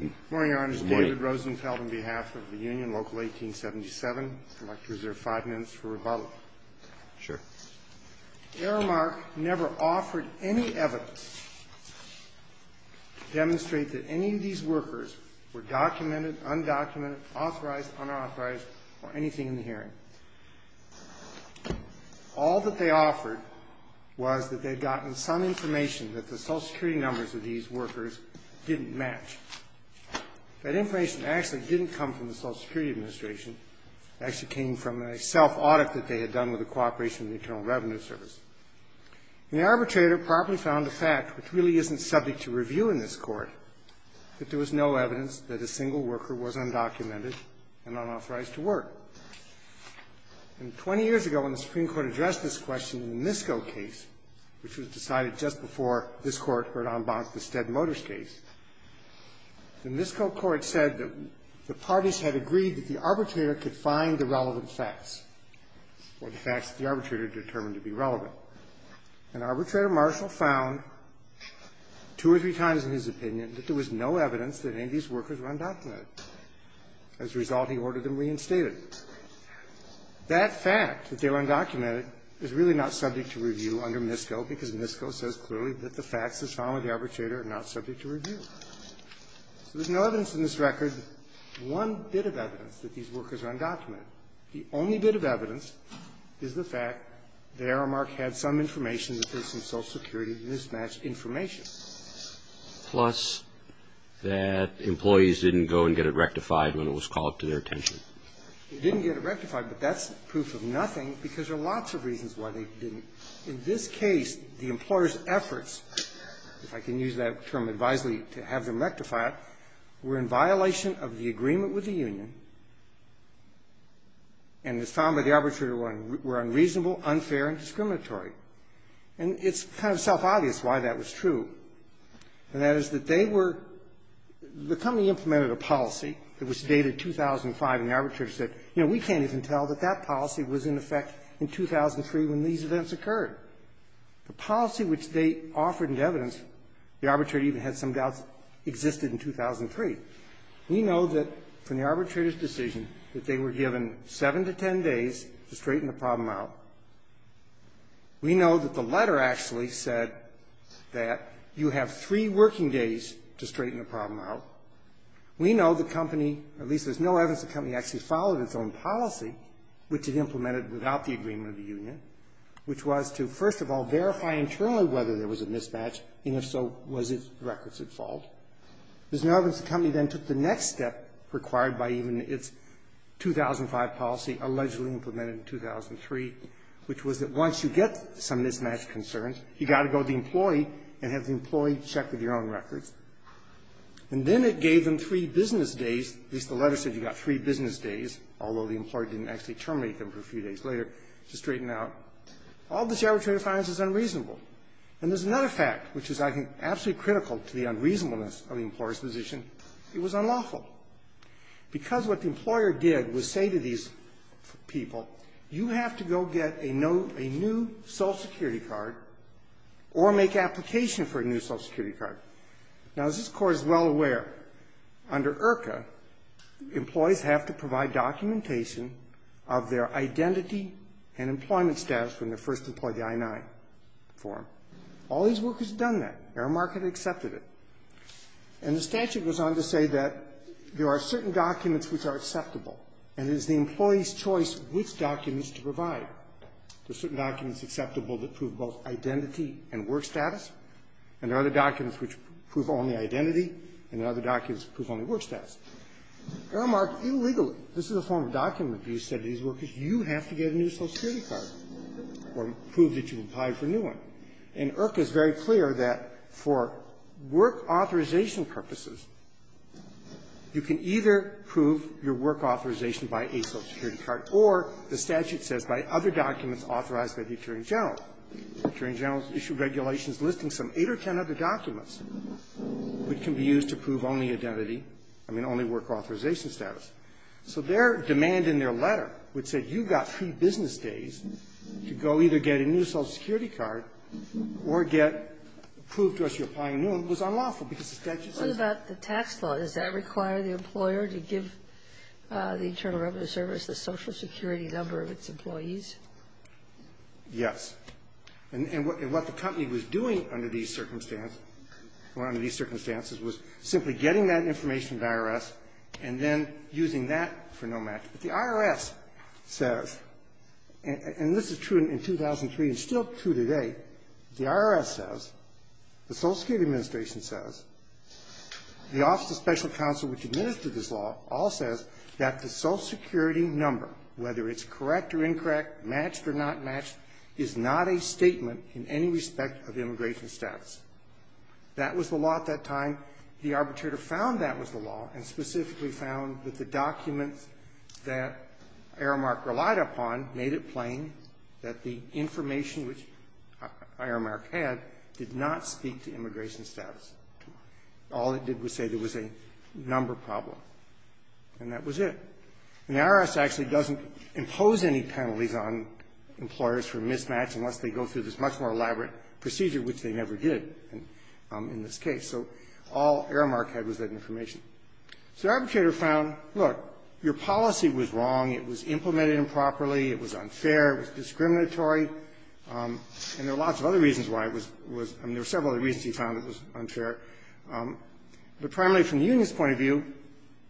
Good morning, Your Honors. David Rosenfeld on behalf of the Union, Local 1877. I'd like to reserve five minutes for rebuttal. Sure. Aramark never offered any evidence to demonstrate that any of these workers were documented, undocumented, authorized, unauthorized, or anything in the hearing. All that they offered was that they'd gotten some information that the Social Security numbers of these workers didn't match. That information actually didn't come from the Social Security Administration. It actually came from a self-audit that they had done with the Cooperation and Internal Revenue Service. The arbitrator probably found a fact which really isn't subject to review in this Court, that there was no evidence that a single worker was undocumented and unauthorized to work. And 20 years ago, when the Supreme Court addressed this question in the Misko case, which was decided just before this Court heard en banc the Stead Motors case, the Misko Court said that the parties had agreed that the arbitrator could find the relevant facts, or the facts that the arbitrator determined to be relevant. And Arbitrator Marshall found two or three times in his opinion that there was no evidence that any of these workers were undocumented. As a result, he ordered them reinstated. That fact, that they were undocumented, is really not subject to review under Misko, because Misko says clearly that the facts that follow the arbitrator are not subject to review. So there's no evidence in this record, one bit of evidence, that these workers are undocumented. The only bit of evidence is the fact that Aramark had some information that faced some Social Security mismatched information. Plus, that employees didn't go and get it rectified when it was called to their attention. They didn't get it rectified, but that's proof of nothing, because there are lots of reasons why they didn't. In this case, the employer's efforts, if I can use that term advisedly, to have them rectified, were in violation of the agreement with the union, and as found by the arbitrator, were unreasonable, unfair, and discriminatory. And it's kind of self-obvious why that was true. And that is that they were the company implemented a policy that was dated 2005, and the arbitrator said, you know, we can't even tell that that policy was in effect in 2003 when these events occurred. The policy which they offered in evidence, the arbitrator even had some doubts, existed in 2003. We know that from the arbitrator's decision that they were given 7 to 10 days to straighten the problem out. We know that the letter actually said that you have three working days to straighten the problem out. We know the company, or at least Ms. Noe Evans' company, actually followed its own policy, which it implemented without the agreement of the union, which was to, first of all, verify internally whether there was a mismatch, and if so, was its records at fault. Ms. Noe Evans' company then took the next step required by even its 2005 policy, allegedly implemented in 2003, which was that once you get some mismatch concerns, you've got to go to the employee and have the employee check with your own records. And then it gave them three business days, at least the letter said you got three business days, although the employer didn't actually terminate them for a few days later, to straighten out. All this arbitrator finds is unreasonable. And there's another fact, which is, I think, absolutely critical to the unreasonableness of the employer's position. It was unlawful. Because what the employer did was say to these people, you have to go get a new Social Security card or make application for a new Social Security card. Now, as this Court is well aware, under IRCA, employees have to provide documentation of their identity and employment status when they first deploy the I-9 form. All these workers have done that. Aramark had accepted it. And the statute goes on to say that there are certain documents which are acceptable, and it is the employee's choice which documents to provide. There are certain documents acceptable that prove both identity and work status, and there are other documents which prove only identity, and there are other documents which prove only work status. Aramark, illegally, this is a form of document abuse, said to these workers, you have to get a new Social Security card or prove that you applied for a new one. And IRCA is very clear that for work authorization purposes, you can either prove your work authorization by a Social Security card or, the statute says, by other documents authorized by the Attorney General. The Attorney General issued regulations listing some eight or ten other documents which can be used to prove only identity, I mean, only work authorization status. So their demand in their letter would say, you've got three business days to go either get a new Social Security card or get to prove to us you're applying for a new one was unlawful because the statute says that. Ginsburg. What about the tax law? Does that require the employer to give the Internal Revenue Service the Social Security number of its employees? Yes. And what the company was doing under these circumstances, or under these circumstances, was simply getting that information to the IRS and then using that for no matter. The IRS says, and this is true in 2003 and still true today, the IRS says, the Social Security Administration says, the Office of Special Counsel which administered this law all says that the Social Security number, whether it's correct or incorrect, matched or not matched, is not a statement in any respect of immigration status. That was the law at that time. The arbitrator found that was the law and specifically found that the documents that Aramark relied upon made it plain that the information which Aramark had did not speak to immigration status. All it did was say there was a number problem. And that was it. And the IRS actually doesn't impose any penalties on employers for mismatch unless they go through this much more elaborate procedure, which they never did in this particular case. So all Aramark had was that information. So the arbitrator found, look, your policy was wrong. It was implemented improperly. It was unfair. It was discriminatory. And there are lots of other reasons why it was – I mean, there were several other reasons he found it was unfair. But primarily from the union's point of view,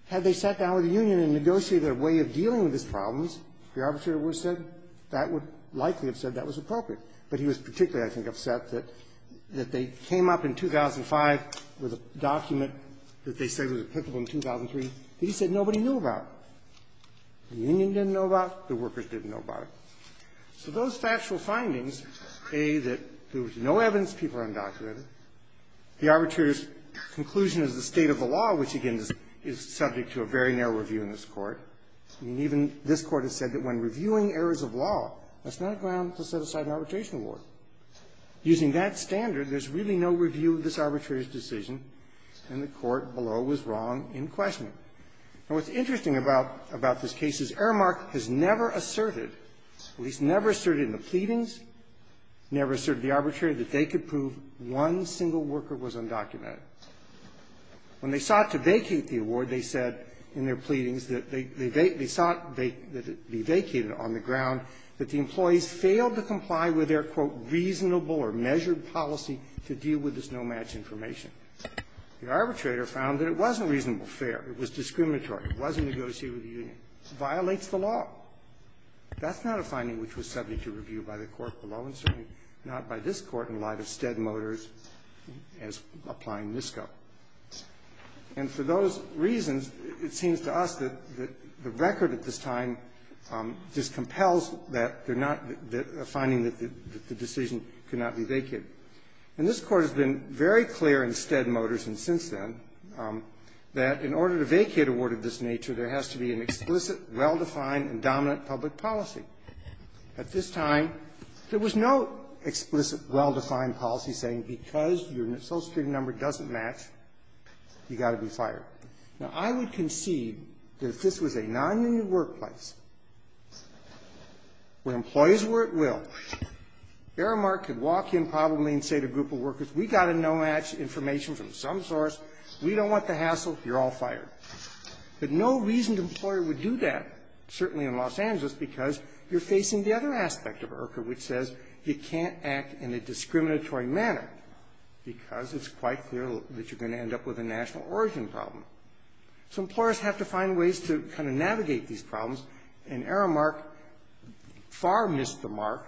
had they sat down with the union and negotiated their way of dealing with these problems, the arbitrator would have said that would likely have said that was appropriate. But he was particularly, I think, upset that they came up in 2005 with a document that they say was applicable in 2003 that he said nobody knew about. The union didn't know about it. The workers didn't know about it. So those factual findings, A, that there was no evidence, people are undocumented. The arbitrator's conclusion is the state of the law, which, again, is subject to a very narrow review in this Court. I mean, even this Court has said that when reviewing errors of law, that's not a ground to set aside an arbitration award. Using that standard, there's really no review of this arbitrator's decision, and the Court below was wrong in questioning. Now, what's interesting about this case is Ehrmacht has never asserted, at least never asserted in the pleadings, never asserted the arbitrator that they could prove one single worker was undocumented. When they sought to vacate the award, they said in their pleadings that they – they sought that it be vacated on the ground that the employees failed to comply with their, quote, reasonable or measured policy to deal with this no-match information. The arbitrator found that it wasn't reasonable, fair. It was discriminatory. It wasn't negotiated with the union. It violates the law. That's not a finding which was subject to review by the Court below, and certainly not by this Court in light of Stead Motors as applying NISCO. And for those reasons, it seems to us that the record at this time discompels that they're not finding that the decision could not be vacated. And this Court has been very clear in Stead Motors and since then that in order to vacate a word of this nature, there has to be an explicit, well-defined and dominant public policy. At this time, there was no explicit, well-defined policy saying because your social security number doesn't match, you've got to be fired. Now, I would concede that if this was a non-union workplace, where employees were at will, Aramark could walk in probably and say to a group of workers, we've got a no-match information from some source, we don't want the hassle, you're all fired. But no reasoned employer would do that, certainly in Los Angeles, because you're facing the other aspect of IRCA, which says you can't act in a discriminatory manner, because it's quite clear that you're going to end up with a national origin problem. So employers have to find ways to kind of navigate these problems, and Aramark far missed the mark,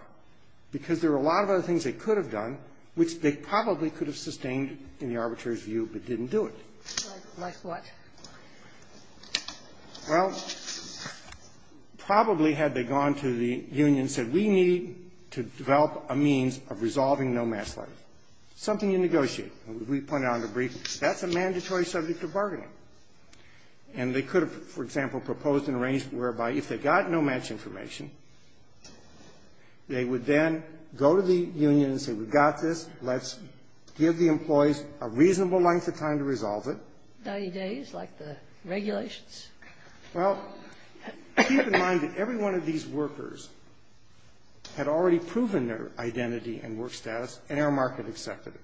because there were a lot of other things they could have done, which they probably could have sustained in the arbitrator's view, but didn't do it. Sotomayor Well, probably had they gone to the union and said, we need to develop a means of resolving no-match life. Something you negotiate. We pointed out in the brief, that's a mandatory subject of bargaining. And they could have, for example, proposed an arrangement whereby if they got no-match information, they would then go to the union and say, we've got this, let's give the employees a reasonable length of time to resolve it. Sotomayor 90 days, like the regulations? Sotomayor Well, keep in mind that every one of these workers had already proven their identity and work status, and Aramark had accepted it.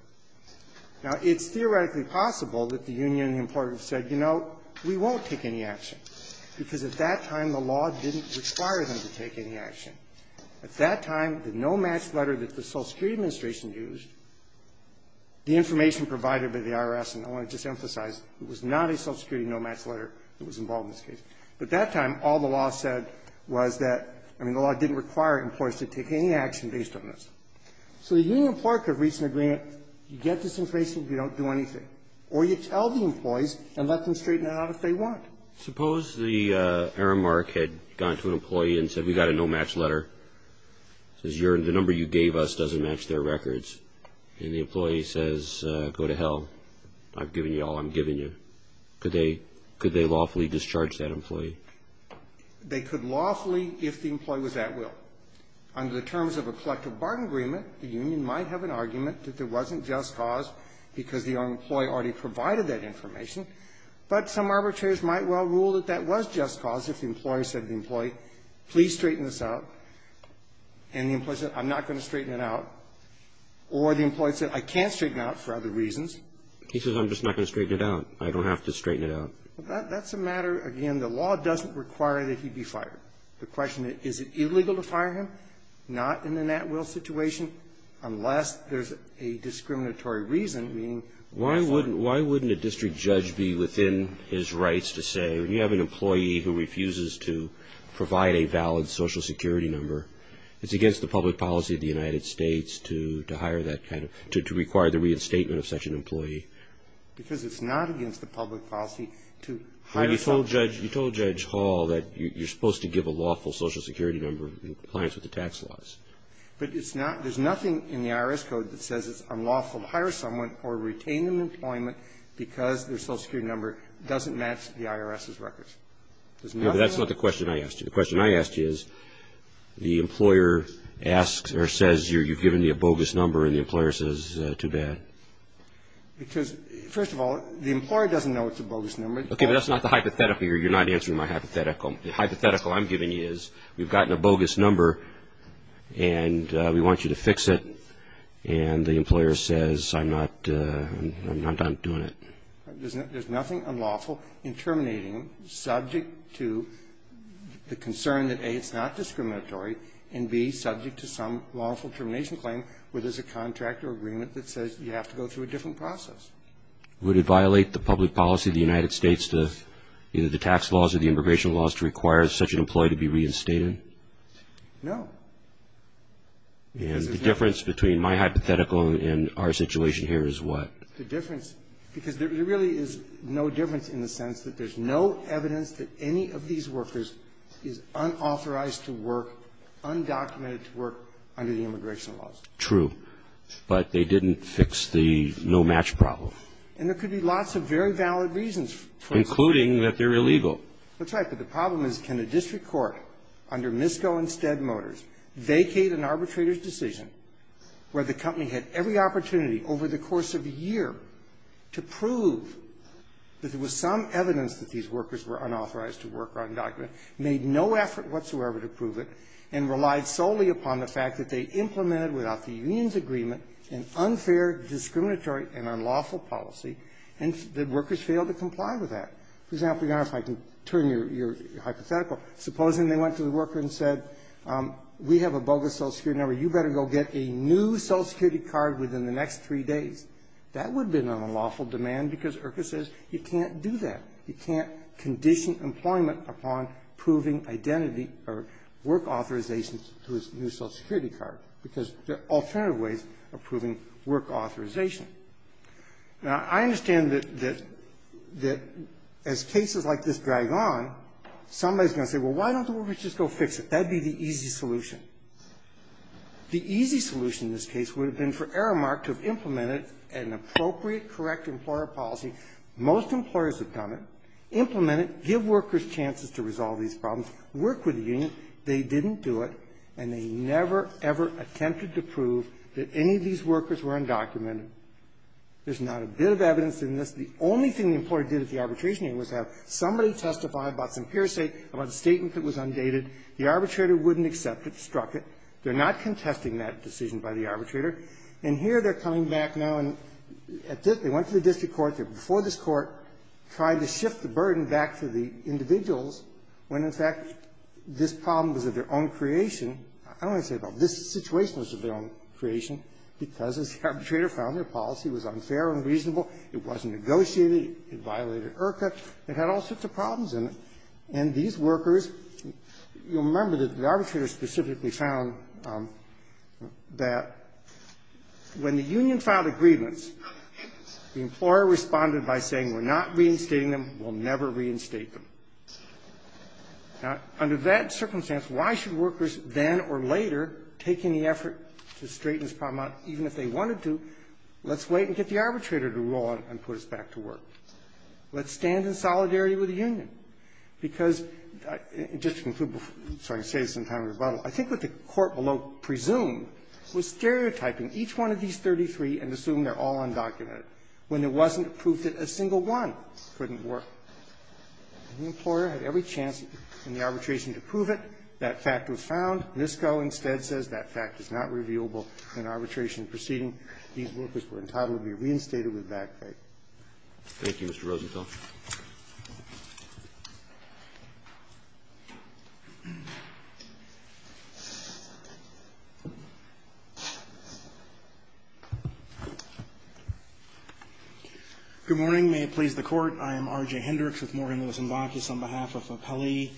Now, it's theoretically possible that the union and the employers said, you know, we won't take any action, because at that time, the law didn't require them to take any action. At that time, the no-match letter that the Social Security Administration used, the information provided by the IRS, and I want to just emphasize, it was not a Social Security no-match letter that was involved in this case. At that time, all the law said was that, I mean, the law didn't require employers to take any action based on this. So the union employer could reasonably get this information if you don't do anything. Or you tell the employees and let them straighten it out if they want. Roberts, suppose the Aramark had gone to an employee and said, we've got a no-match letter, says the number you gave us doesn't match their records, and the employee says, go to hell, I've given you all I'm giving you. Could they lawfully discharge that employee? Sotomayor They could lawfully if the employee was at will. Under the terms of a collective bargain agreement, the union might have an argument that there wasn't just cause because the employee already provided that information, but some arbitrators might well rule that that was just cause if the employer said to the employee, please straighten this out, and the employee said, I'm not going to straighten it out. Or the employee said, I can't straighten it out for other reasons. Roberts, he says, I'm just not going to straighten it out. I don't have to straighten it out. Sotomayor That's a matter, again, the law doesn't require that he be fired. The question is, is it illegal to fire him? Not in the at-will situation, unless there's a discriminatory reason, meaning why is that? Roberts, why wouldn't a district judge be within his rights to say, when you have an employee who refuses to provide a valid Social Security number, it's against the public policy of the United States to hire that kind of, to require the reinstatement of such an employee? Sotomayor Because it's not against the public policy to hire someone. Roberts, you told Judge Hall that you're supposed to give a lawful Social Security number in compliance with the tax laws. Sotomayor But it's not – there's nothing in the IRS code that says it's unlawful to hire someone or retain them in employment because their Social Security number doesn't match the IRS's records. There's nothing of that. Roberts, no, but that's not the question I asked you. The question I asked you is, the employer asks or says you've given me a bogus number, and the employer says, too bad. Sotomayor Because, first of all, the employer doesn't know it's a bogus number. Roberts, okay, but that's not the hypothetical here. You're not answering my hypothetical. The hypothetical I'm giving you is, we've gotten a bogus number, and we want you to fix it, and the employer says, I'm not – I'm not doing it. Sotomayor There's nothing unlawful in terminating subject to the concern that, A, it's not discriminatory, and, B, subject to some lawful termination claim where there's a contract or agreement that says you have to go through a different process. Would it violate the public policy of the United States to either the tax laws or the immigration laws to require such an employee to be reinstated? Roberts, no. Sotomayor And the difference between my hypothetical and our situation here is what? Roberts, the difference, because there really is no difference in the sense that there's no evidence that any of these workers is unauthorized to work, undocumented to work under the immigration laws. True, but they didn't fix the no-match problem. Roberts And there could be lots of very valid reasons for excluding that they're illegal. Roberts That's right, but the problem is, can a district court under Misko and Stead Motors vacate an arbitrator's decision where the company had every opportunity over the course of a year to prove that there was some evidence that these workers were unauthorized to work undocumented, made no effort whatsoever to prove it, and relied solely upon the fact that they implemented, without the union's agreement, an unfair, discriminatory, and unlawful policy, and the workers failed to comply with that? For example, Your Honor, if I can turn your hypothetical. Supposing they went to the worker and said, we have a bogus social security number. You better go get a new social security card within the next three days. That would have been an unlawful demand because, Urquhart says, you can't do that. You can't condition employment upon proving identity or work authorization to a new social security card because there are alternative ways of proving work authorization. Now, I understand that as cases like this drag on, somebody's going to say, well, why don't the workers just go fix it? That would be the easy solution. The easy solution in this case would have been for Aramark to have implemented an appropriate, correct employer policy. Most employers have done it, implemented, give workers chances to resolve these problems, worked with the union. They didn't do it, and they never, ever attempted to prove that any of these workers were undocumented. There's not a bit of evidence in this. The only thing the employer did at the arbitration hearing was have somebody testify about some hearsay about a statement that was undated. The arbitrator wouldn't accept it, struck it. They're not contesting that decision by the arbitrator. And here they're coming back now and at this they went to the district court. They're before this Court, trying to shift the burden back to the individuals when, in fact, this problem was of their own creation. I don't want to say it was of their own creation, but this situation was of their own creation because as the arbitrator found their policy was unfair and reasonable, it wasn't negotiated, it violated IRCA, it had all sorts of problems in it. And these workers, you'll remember that the arbitrator specifically found that when the union filed a grievance, the employer responded by saying, we're not reinstating them, we'll never reinstate them. Now, under that circumstance, why should workers then or later take any effort to straighten this problem out, even if they wanted to? Let's wait and get the arbitrator to rule on it and put us back to work. Let's stand in solidarity with the union because, just to conclude, so I can say this in time of rebuttal, I think what the Court below presumed was stereotyping each one of these 33 and assume they're all undocumented, when there wasn't proof that a single one couldn't work. The employer had every chance in the arbitration to prove it. That fact was found. NISCO instead says that fact is not revealable in arbitration proceeding. These workers were entitled to be reinstated with back pay. Thank you, Mr. Rosenthal. Good morning. May it please the Court. I am R.J. Hendricks with Morgan Lewis & Bacchus on behalf of Appellee.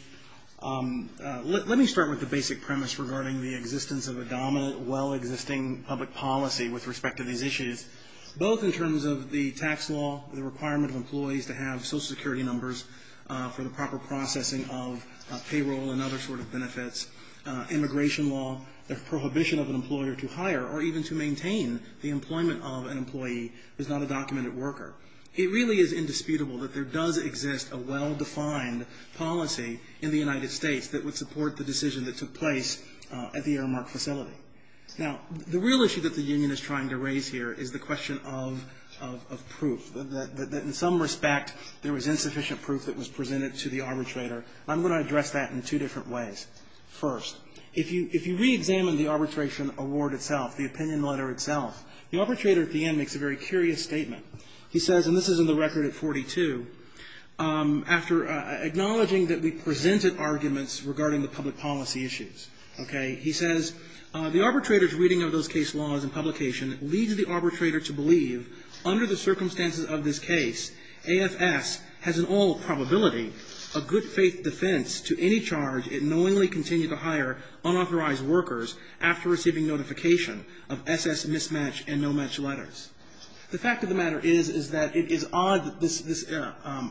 Let me start with the basic premise regarding the existence of a dominant, well-existing public policy with respect to these issues, both in terms of the tax law, the requirement of employees to have Social Security numbers for the proper processing of payroll and other sort of benefits, immigration law, the prohibition of an employer to hire or even to maintain the employment of an employee who is not a documented worker. It really is indisputable that there does exist a well-defined policy in the United States that would support the decision that took place at the Aramark facility. Now, the real issue that the union is trying to raise here is the question of proof, that in some respect there was insufficient proof that was presented to the arbitrator. I'm going to address that in two different ways. First, if you re-examine the arbitration award itself, the opinion letter itself, the arbitrator at the end makes a very curious statement. He says, and this is in the record at 42, after acknowledging that we presented arguments regarding the public policy issues, okay? He says, the arbitrator's reading of those case laws and publication leads the arbitrator to believe under the circumstances of this case, AFS has an all probability of good faith defense to any charge it knowingly continued to hire unauthorized workers after receiving notification of SS mismatch and no match letters. The fact of the matter is that it is odd that this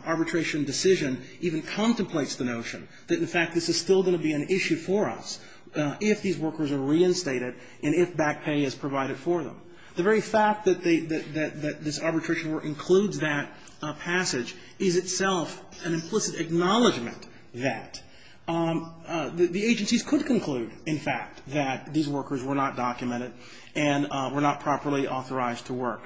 arbitration decision even contemplates the notion that in fact this is still going to be an issue for us. If these workers are reinstated and if back pay is provided for them. The very fact that they, that this arbitration work includes that passage is itself an implicit acknowledgment that the agencies could conclude, in fact, that these workers were not documented and were not properly authorized to work.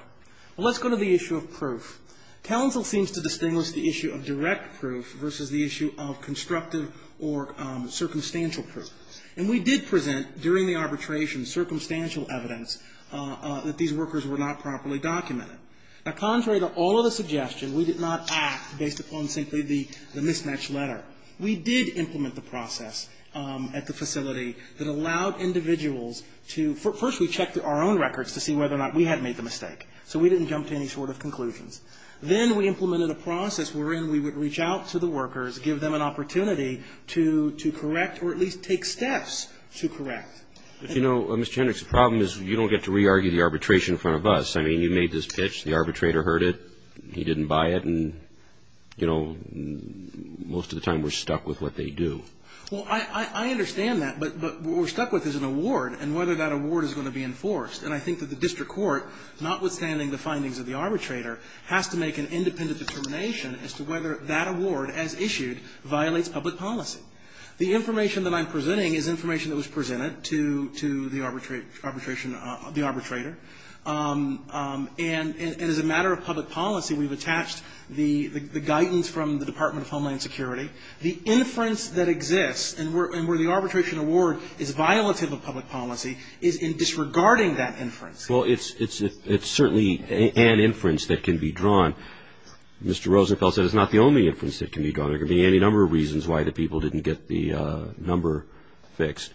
Let's go to the issue of proof. Counsel seems to distinguish the issue of direct proof versus the issue of constructive or circumstantial proof. And we did present during the arbitration circumstantial evidence that these workers were not properly documented. Now contrary to all of the suggestion, we did not act based upon simply the mismatch letter. We did implement the process at the facility that allowed individuals to, first we checked our own records to see whether or not we had made the mistake. So we didn't jump to any sort of conclusions. Then we implemented a process wherein we would reach out to the workers, give them an opportunity to make a decision, and then we would take steps to correct. But you know, Mr. Hendricks, the problem is you don't get to re-argue the arbitration in front of us. I mean, you made this pitch, the arbitrator heard it, he didn't buy it, and, you know, most of the time we're stuck with what they do. Well, I understand that. But what we're stuck with is an award and whether that award is going to be enforced. And I think that the district court, notwithstanding the findings of the arbitrator, has to make an independent determination as to whether that award as issued violates public policy. The information that I'm presenting is information that was presented to the arbitration of the arbitrator. And as a matter of public policy, we've attached the guidance from the Department of Homeland Security. The inference that exists and where the arbitration award is violative of public policy is in disregarding that inference. Well, it's certainly an inference that can be drawn. There could be any number of reasons why the people didn't get the number fixed.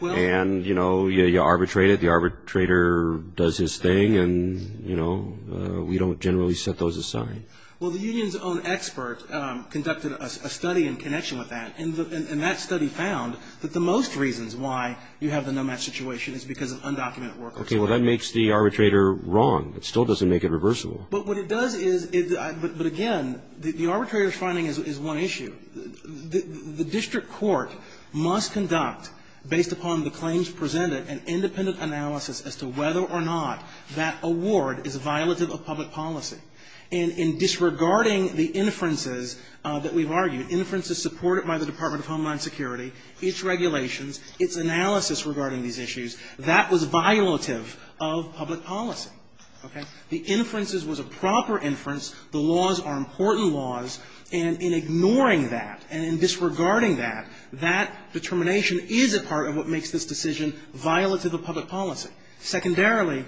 And, you know, you arbitrate it, the arbitrator does his thing, and, you know, we don't generally set those aside. Well, the union's own expert conducted a study in connection with that. And that study found that the most reasons why you have the no match situation is because of undocumented workers. Okay, well, that makes the arbitrator wrong. It still doesn't make it reversible. But what it does is, but again, the arbitrator's finding is one issue. The district court must conduct, based upon the claims presented, an independent analysis as to whether or not that award is violative of public policy. In disregarding the inferences that we've argued, inferences supported by the Department of Homeland Security, its regulations, its analysis regarding these issues, that was violative of public policy, okay? The inferences was a proper inference. The laws are important laws. And in ignoring that, and in disregarding that, that determination is a part of what makes this decision violative of public policy. Secondarily,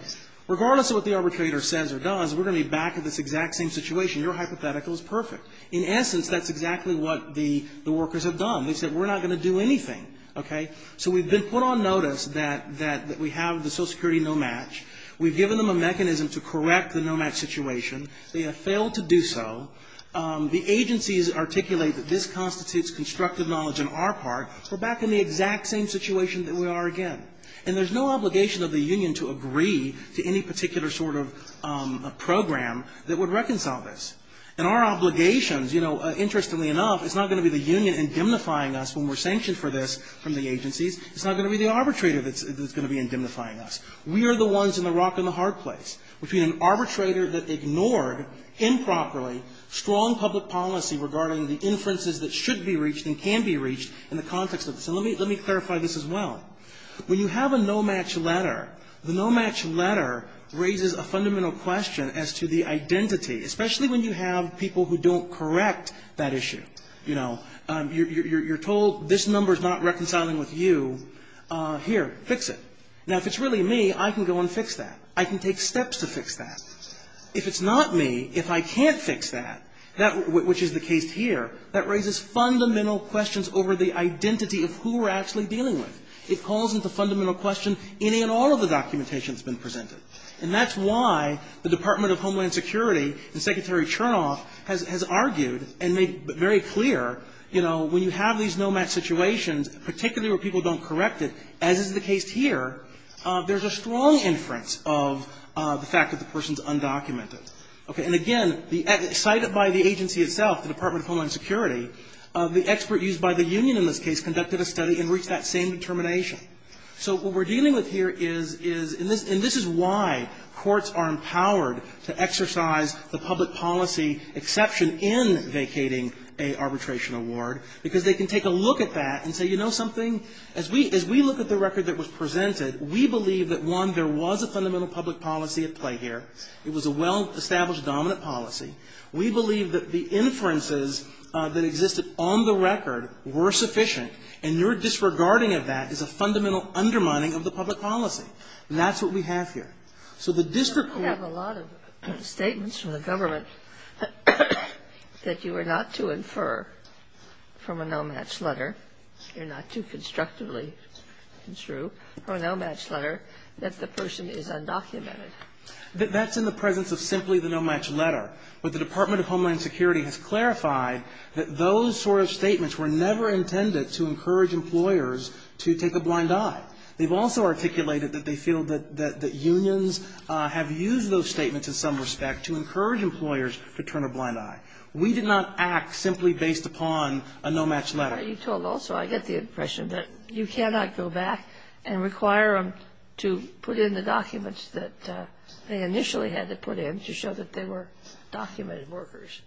regardless of what the arbitrator says or does, we're going to be back at this exact same situation. Your hypothetical is perfect. In essence, that's exactly what the workers have done. They've said, we're not going to do anything, okay? So we've been put on notice that we have the Social Security no match. We've given them a mechanism to correct the no match situation. They have failed to do so. The agencies articulate that this constitutes constructive knowledge on our part. We're back in the exact same situation that we are again. And there's no obligation of the union to agree to any particular sort of program that would reconcile this. And our obligations, you know, interestingly enough, it's not going to be the union indemnifying us when we're sanctioned for this from the agencies. It's not going to be the arbitrator that's going to be indemnifying us. We are the ones in the rock and the hard place. Between an arbitrator that ignored improperly strong public policy regarding the inferences that should be reached and can be reached in the context of this. And let me clarify this as well. When you have a no match letter, the no match letter raises a fundamental question as to the identity, especially when you have people who don't correct that issue. You know, you're told this number is not reconciling with you. Here, fix it. Now, if it's really me, I can go and fix that. I can take steps to fix that. If it's not me, if I can't fix that, which is the case here, that raises fundamental questions over the identity of who we're actually dealing with. It calls into fundamental question any and all of the documentation that's been presented. And that's why the Department of Homeland Security and Secretary Chernoff has argued and made very clear, you know, when you have these no match situations, particularly where people don't correct it, as is the case here, there's a strong inference of the fact that the person's undocumented. Okay. And again, cited by the agency itself, the Department of Homeland Security, the expert used by the union in this case conducted a study and reached that same determination. So what we're dealing with here is this, and this is why courts are empowered to exercise the public policy exception in vacating a arbitration award, because they can take a look at that and say, you know something, as we look at the record that was presented, we believe that, one, there was a fundamental public policy at play here. It was a well-established dominant policy. We believe that the inferences that existed on the record were sufficient, and your disregarding of that is a fundamental undermining of the public policy. And that's what we have here. So the district court... You're not too constructively construe for a no-match letter that the person is undocumented. That's in the presence of simply the no-match letter. But the Department of Homeland Security has clarified that those sort of statements were never intended to encourage employers to take a blind eye. They've also articulated that they feel that unions have used those statements in some respect to encourage employers to turn a blind eye. We did not act simply based upon a no-match letter. You told also, I get the impression, that you cannot go back and require them to put in the documents that they initially had to put in to show that they were documented workers.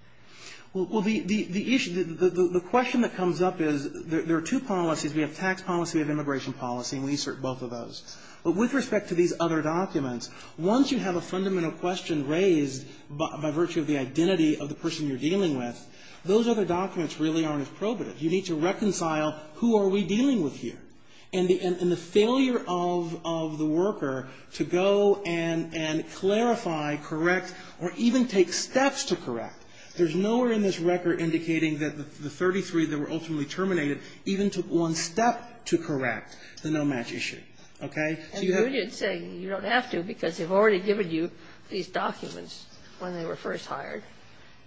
Well, the issue, the question that comes up is, there are two policies. We have tax policy, we have immigration policy, and we assert both of those. But with respect to these other documents, once you have a fundamental question raised by virtue of the identity of the person you're dealing with, those other documents really aren't as probative. You need to reconcile, who are we dealing with here? And the failure of the worker to go and clarify, correct, or even take steps to correct. There's nowhere in this record indicating that the 33 that were ultimately terminated even took one step to correct the no-match issue. Okay? So you have to say you don't have to because they've already given you these documents when they were first hired,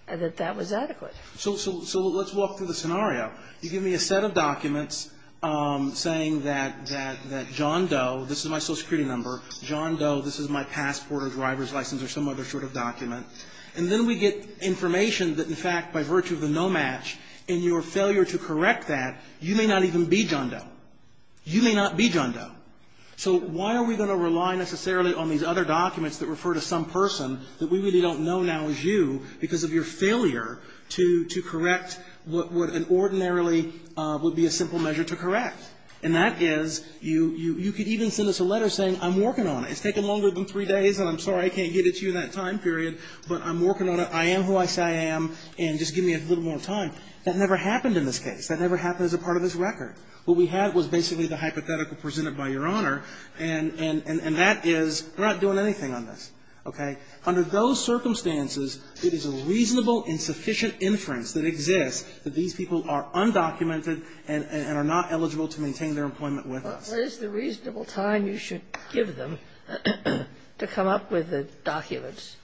and that that was adequate. So let's walk through the scenario. You give me a set of documents saying that John Doe, this is my Social Security number, John Doe, this is my passport or driver's license or some other sort of document, and then we get information that, in fact, by virtue of the no-match, in your failure to correct that, you may not even be John Doe. You may not be John Doe. So why are we going to rely necessarily on these other documents that refer to some person that we really don't know now is you because of your failure to correct what would ordinarily would be a simple measure to correct? And that is you could even send us a letter saying I'm working on it. It's taken longer than three days, and I'm sorry I can't get it to you in that time period, but I'm working on it. I am who I say I am, and just give me a little more time. That never happened in this case. That never happened as a part of this record. What we had was basically the hypothetical presented by Your Honor, and that is we're not doing anything on this, okay? Under those circumstances, it is a reasonable and sufficient inference that exists that these people are undocumented and are not eligible to maintain their employment with us. Sotomayor, where is the reasonable time you should give them to come up with the documents?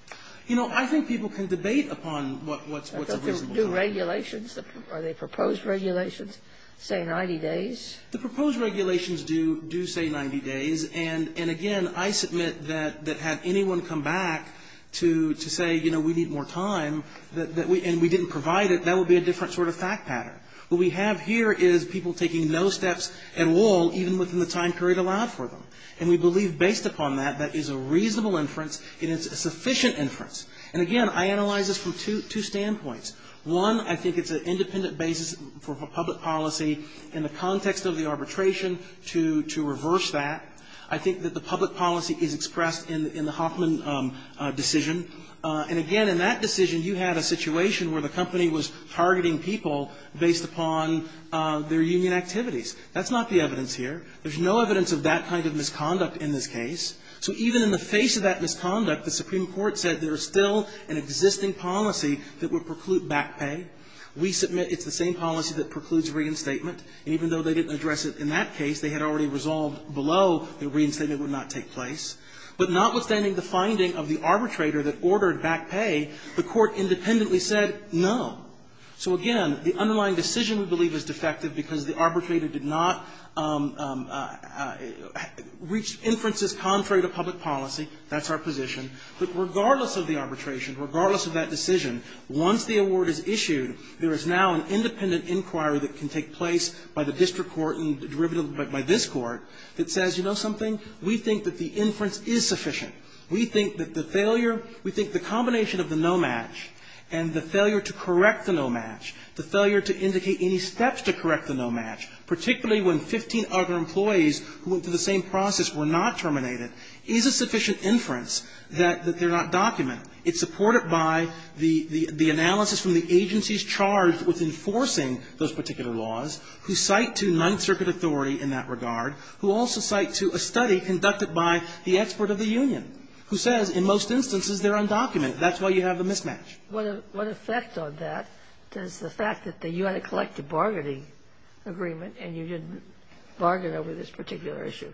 You know, I think people can debate upon what's a reasonable time. The regulations, are they proposed regulations, say 90 days? The proposed regulations do say 90 days. And again, I submit that had anyone come back to say, you know, we need more time and we didn't provide it, that would be a different sort of fact pattern. What we have here is people taking no steps at all, even within the time period allowed for them. And we believe based upon that, that is a reasonable inference and it's a sufficient inference. And again, I analyze this from two standpoints. One, I think it's an independent basis for public policy in the context of the arbitration to reverse that. I think that the public policy is expressed in the Hoffman decision. And again, in that decision, you had a situation where the company was targeting people based upon their union activities. That's not the evidence here. There's no evidence of that kind of misconduct in this case. So even in the face of that misconduct, the Supreme Court said there's still an existing policy that would preclude back pay. We submit it's the same policy that precludes reinstatement. And even though they didn't address it in that case, they had already resolved below that reinstatement would not take place. But notwithstanding the finding of the arbitrator that ordered back pay, the Court independently said no. So again, the underlying decision, we believe, is defective because the arbitrator did not reach inferences contrary to public policy. That's our position. But regardless of the arbitration, regardless of that decision, once the award is issued, there is now an independent inquiry that can take place by the district court and derivative by this court that says, you know something, we think that the inference is sufficient. We think that the failure, we think the combination of the no match and the failure to correct the no match, the failure to indicate any steps to correct the no match, particularly when 15 other employees who went through the same process were not terminated, is a sufficient inference that they're not documented. It's supported by the analysis from the agencies charged with enforcing those particular laws who cite to Ninth Circuit authority in that regard, who also cite to a study conducted by the expert of the union, who says in most instances they're undocumented. That's why you have the mismatch. What effect on that does the fact that you had a collective bargaining agreement and you didn't bargain over this particular issue?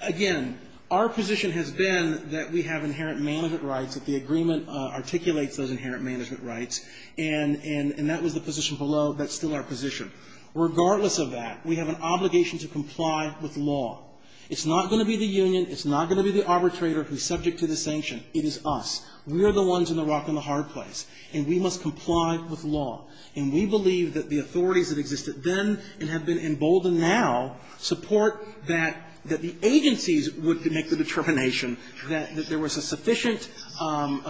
Again, our position has been that we have inherent management rights, that the agreement articulates those inherent management rights, and that was the position below. That's still our position. Regardless of that, we have an obligation to comply with law. It's not going to be the union. It's not going to be the arbitrator who's subject to the sanction. It is us. We are the ones in the rock and the hard place, and we must comply with law. And we believe that the authorities that existed then and have been emboldened now support that the agencies would make the determination that there was a sufficient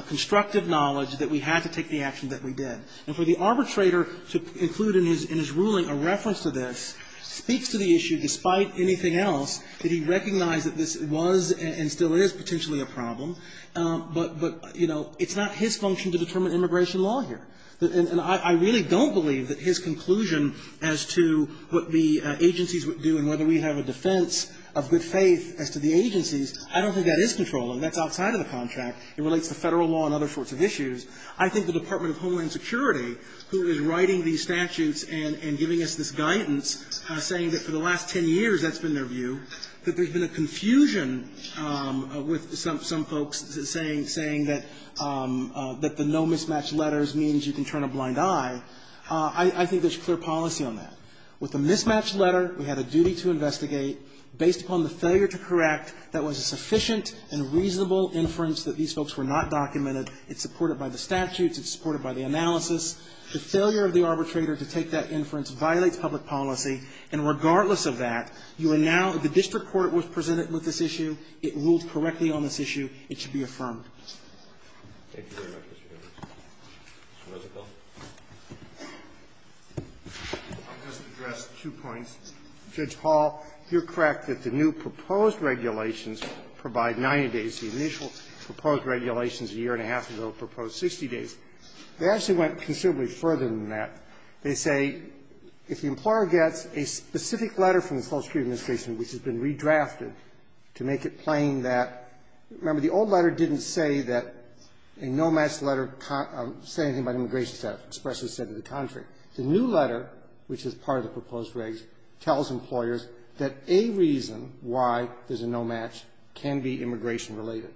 constructive knowledge that we had to take the action that we did. And for the arbitrator to include in his ruling a reference to this speaks to the issue, despite anything else, that he recognized that this was and still is potentially a problem, but, you know, it's not his function to determine immigration law here. And I really don't believe that his conclusion as to what the agencies would do and whether we have a defense of good faith as to the agencies, I don't think that is controllable. That's outside of the contract. It relates to Federal law and other sorts of issues. I think the Department of Homeland Security, who is writing these statutes and giving us this guidance, saying that for the last ten years that's been their view, that there's been a confusion with some folks saying that the no-mismatch letters means you can turn a blind eye, I think there's clear policy on that. With the mismatched letter, we had a duty to investigate, based upon the failure to correct, that was a sufficient and reasonable inference that these folks were not documented. It's supported by the statutes. It's supported by the analysis. The failure of the arbitrator to take that inference violates public policy. And regardless of that, you are now the district court was presented with this issue. It ruled correctly on this issue. It should be affirmed. Thank you very much, Mr. Gershengorn. Mr. Rosenfeld. I'll just address two points. Judge Hall, you're correct that the new proposed regulations provide 90 days. The initial proposed regulations a year and a half ago proposed 60 days. They actually went considerably further than that. They say if the employer gets a specific letter from the Social Security Administration which has been redrafted to make it plain that the old letter didn't say that a no-match letter can't say anything about immigration status. It expressly said to the contrary. The new letter, which is part of the proposed regs, tells employers that a reason why there's a no-match can be immigration-related.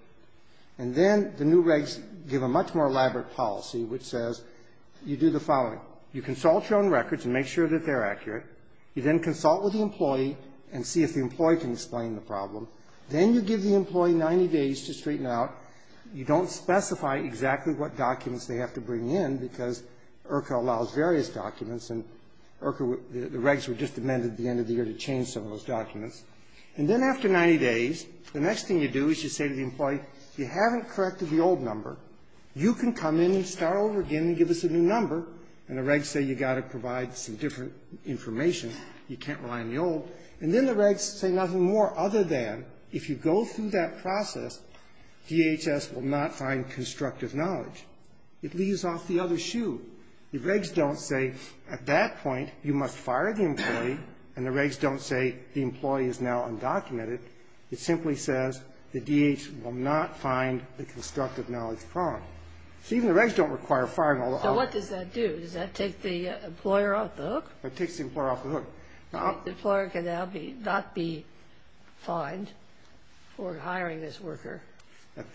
And then the new regs give a much more elaborate policy which says you do the following. You consult your own records and make sure that they're accurate. You then consult with the employee and see if the employee can explain the problem. Then you give the employee 90 days to straighten out. You don't specify exactly what documents they have to bring in because IRCA allows various documents, and IRCA regs were just amended at the end of the year to change some of those documents. And then after 90 days, the next thing you do is you say to the employee, you haven't corrected the old number. You can come in and start over again and give us a new number. And the regs say you've got to provide some different information. You can't rely on the old. And then the regs say nothing more other than if you go through that process, DHS will not find constructive knowledge. It leaves off the other shoe. The regs don't say at that point you must fire the employee, and the regs don't say the employee is now undocumented. It simply says the DHS will not find the constructive knowledge problem. So even the regs don't require firing all the other employees. Now, what does that do? Does that take the employer off the hook? It takes the employer off the hook. The employer can now be not be fined for hiring this worker.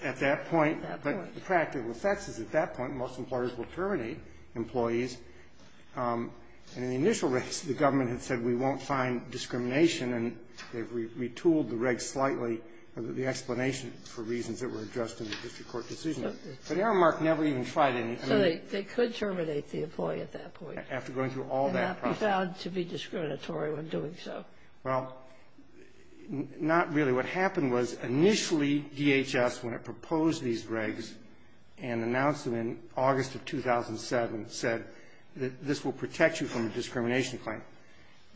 At that point, but the practical effects is at that point, most employers will terminate employees. And in the initial regs, the government had said we won't find discrimination, and they've retooled the regs slightly, the explanation for reasons that were addressed in the district court decision. But Aramark never even tried anything. So they could terminate the employee at that point. After going through all that process. And not be found to be discriminatory when doing so. Well, not really. What happened was initially DHS, when it proposed these regs and announced them in August of 2007, said this will protect you from a discrimination claim.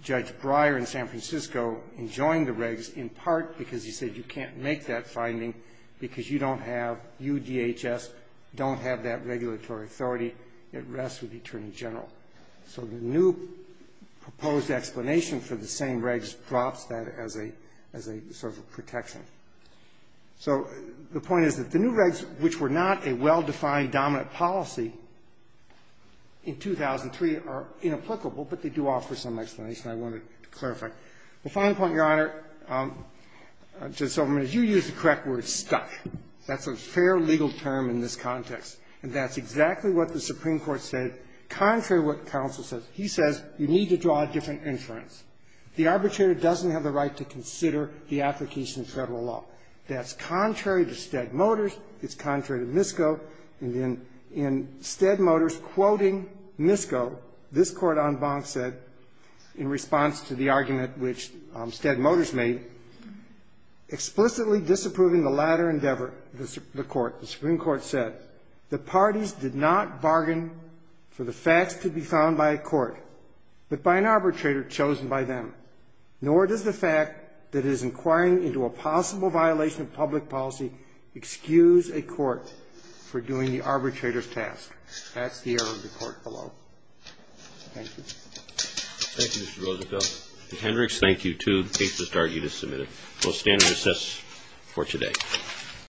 Judge Breyer in San Francisco enjoined the regs in part because he said you can't make that finding because you don't have, you DHS, don't have that regulatory authority. It rests with the Attorney General. So the new proposed explanation for the same regs drops that as a sort of protection. So the point is that the new regs, which were not a well-defined dominant policy in 2003 are inapplicable, but they do offer some explanation I wanted to clarify. The final point, Your Honor, Judge Silverman, is you used the correct word, stuck. That's a fair legal term in this context. And that's exactly what the Supreme Court said, contrary to what counsel says. He says you need to draw a different inference. The arbitrator doesn't have the right to consider the application of Federal law. That's contrary to Stead Motors. It's contrary to MISCO. And in Stead Motors quoting MISCO, this Court en banc said, in response to the argument which Stead Motors made, explicitly disapproving the latter endeavor, the Court, the Supreme Court said, the parties did not bargain for the facts to be found by a court, but by an arbitrator chosen by them. Nor does the fact that it is inquiring into a possible violation of public policy excuse a court for doing the arbitrator's task. That's the error of the Court below. Thank you. Thank you, Mr. Roosevelt. And Hendricks, thank you, too, in case this argument is submitted. We'll stand and assess for today.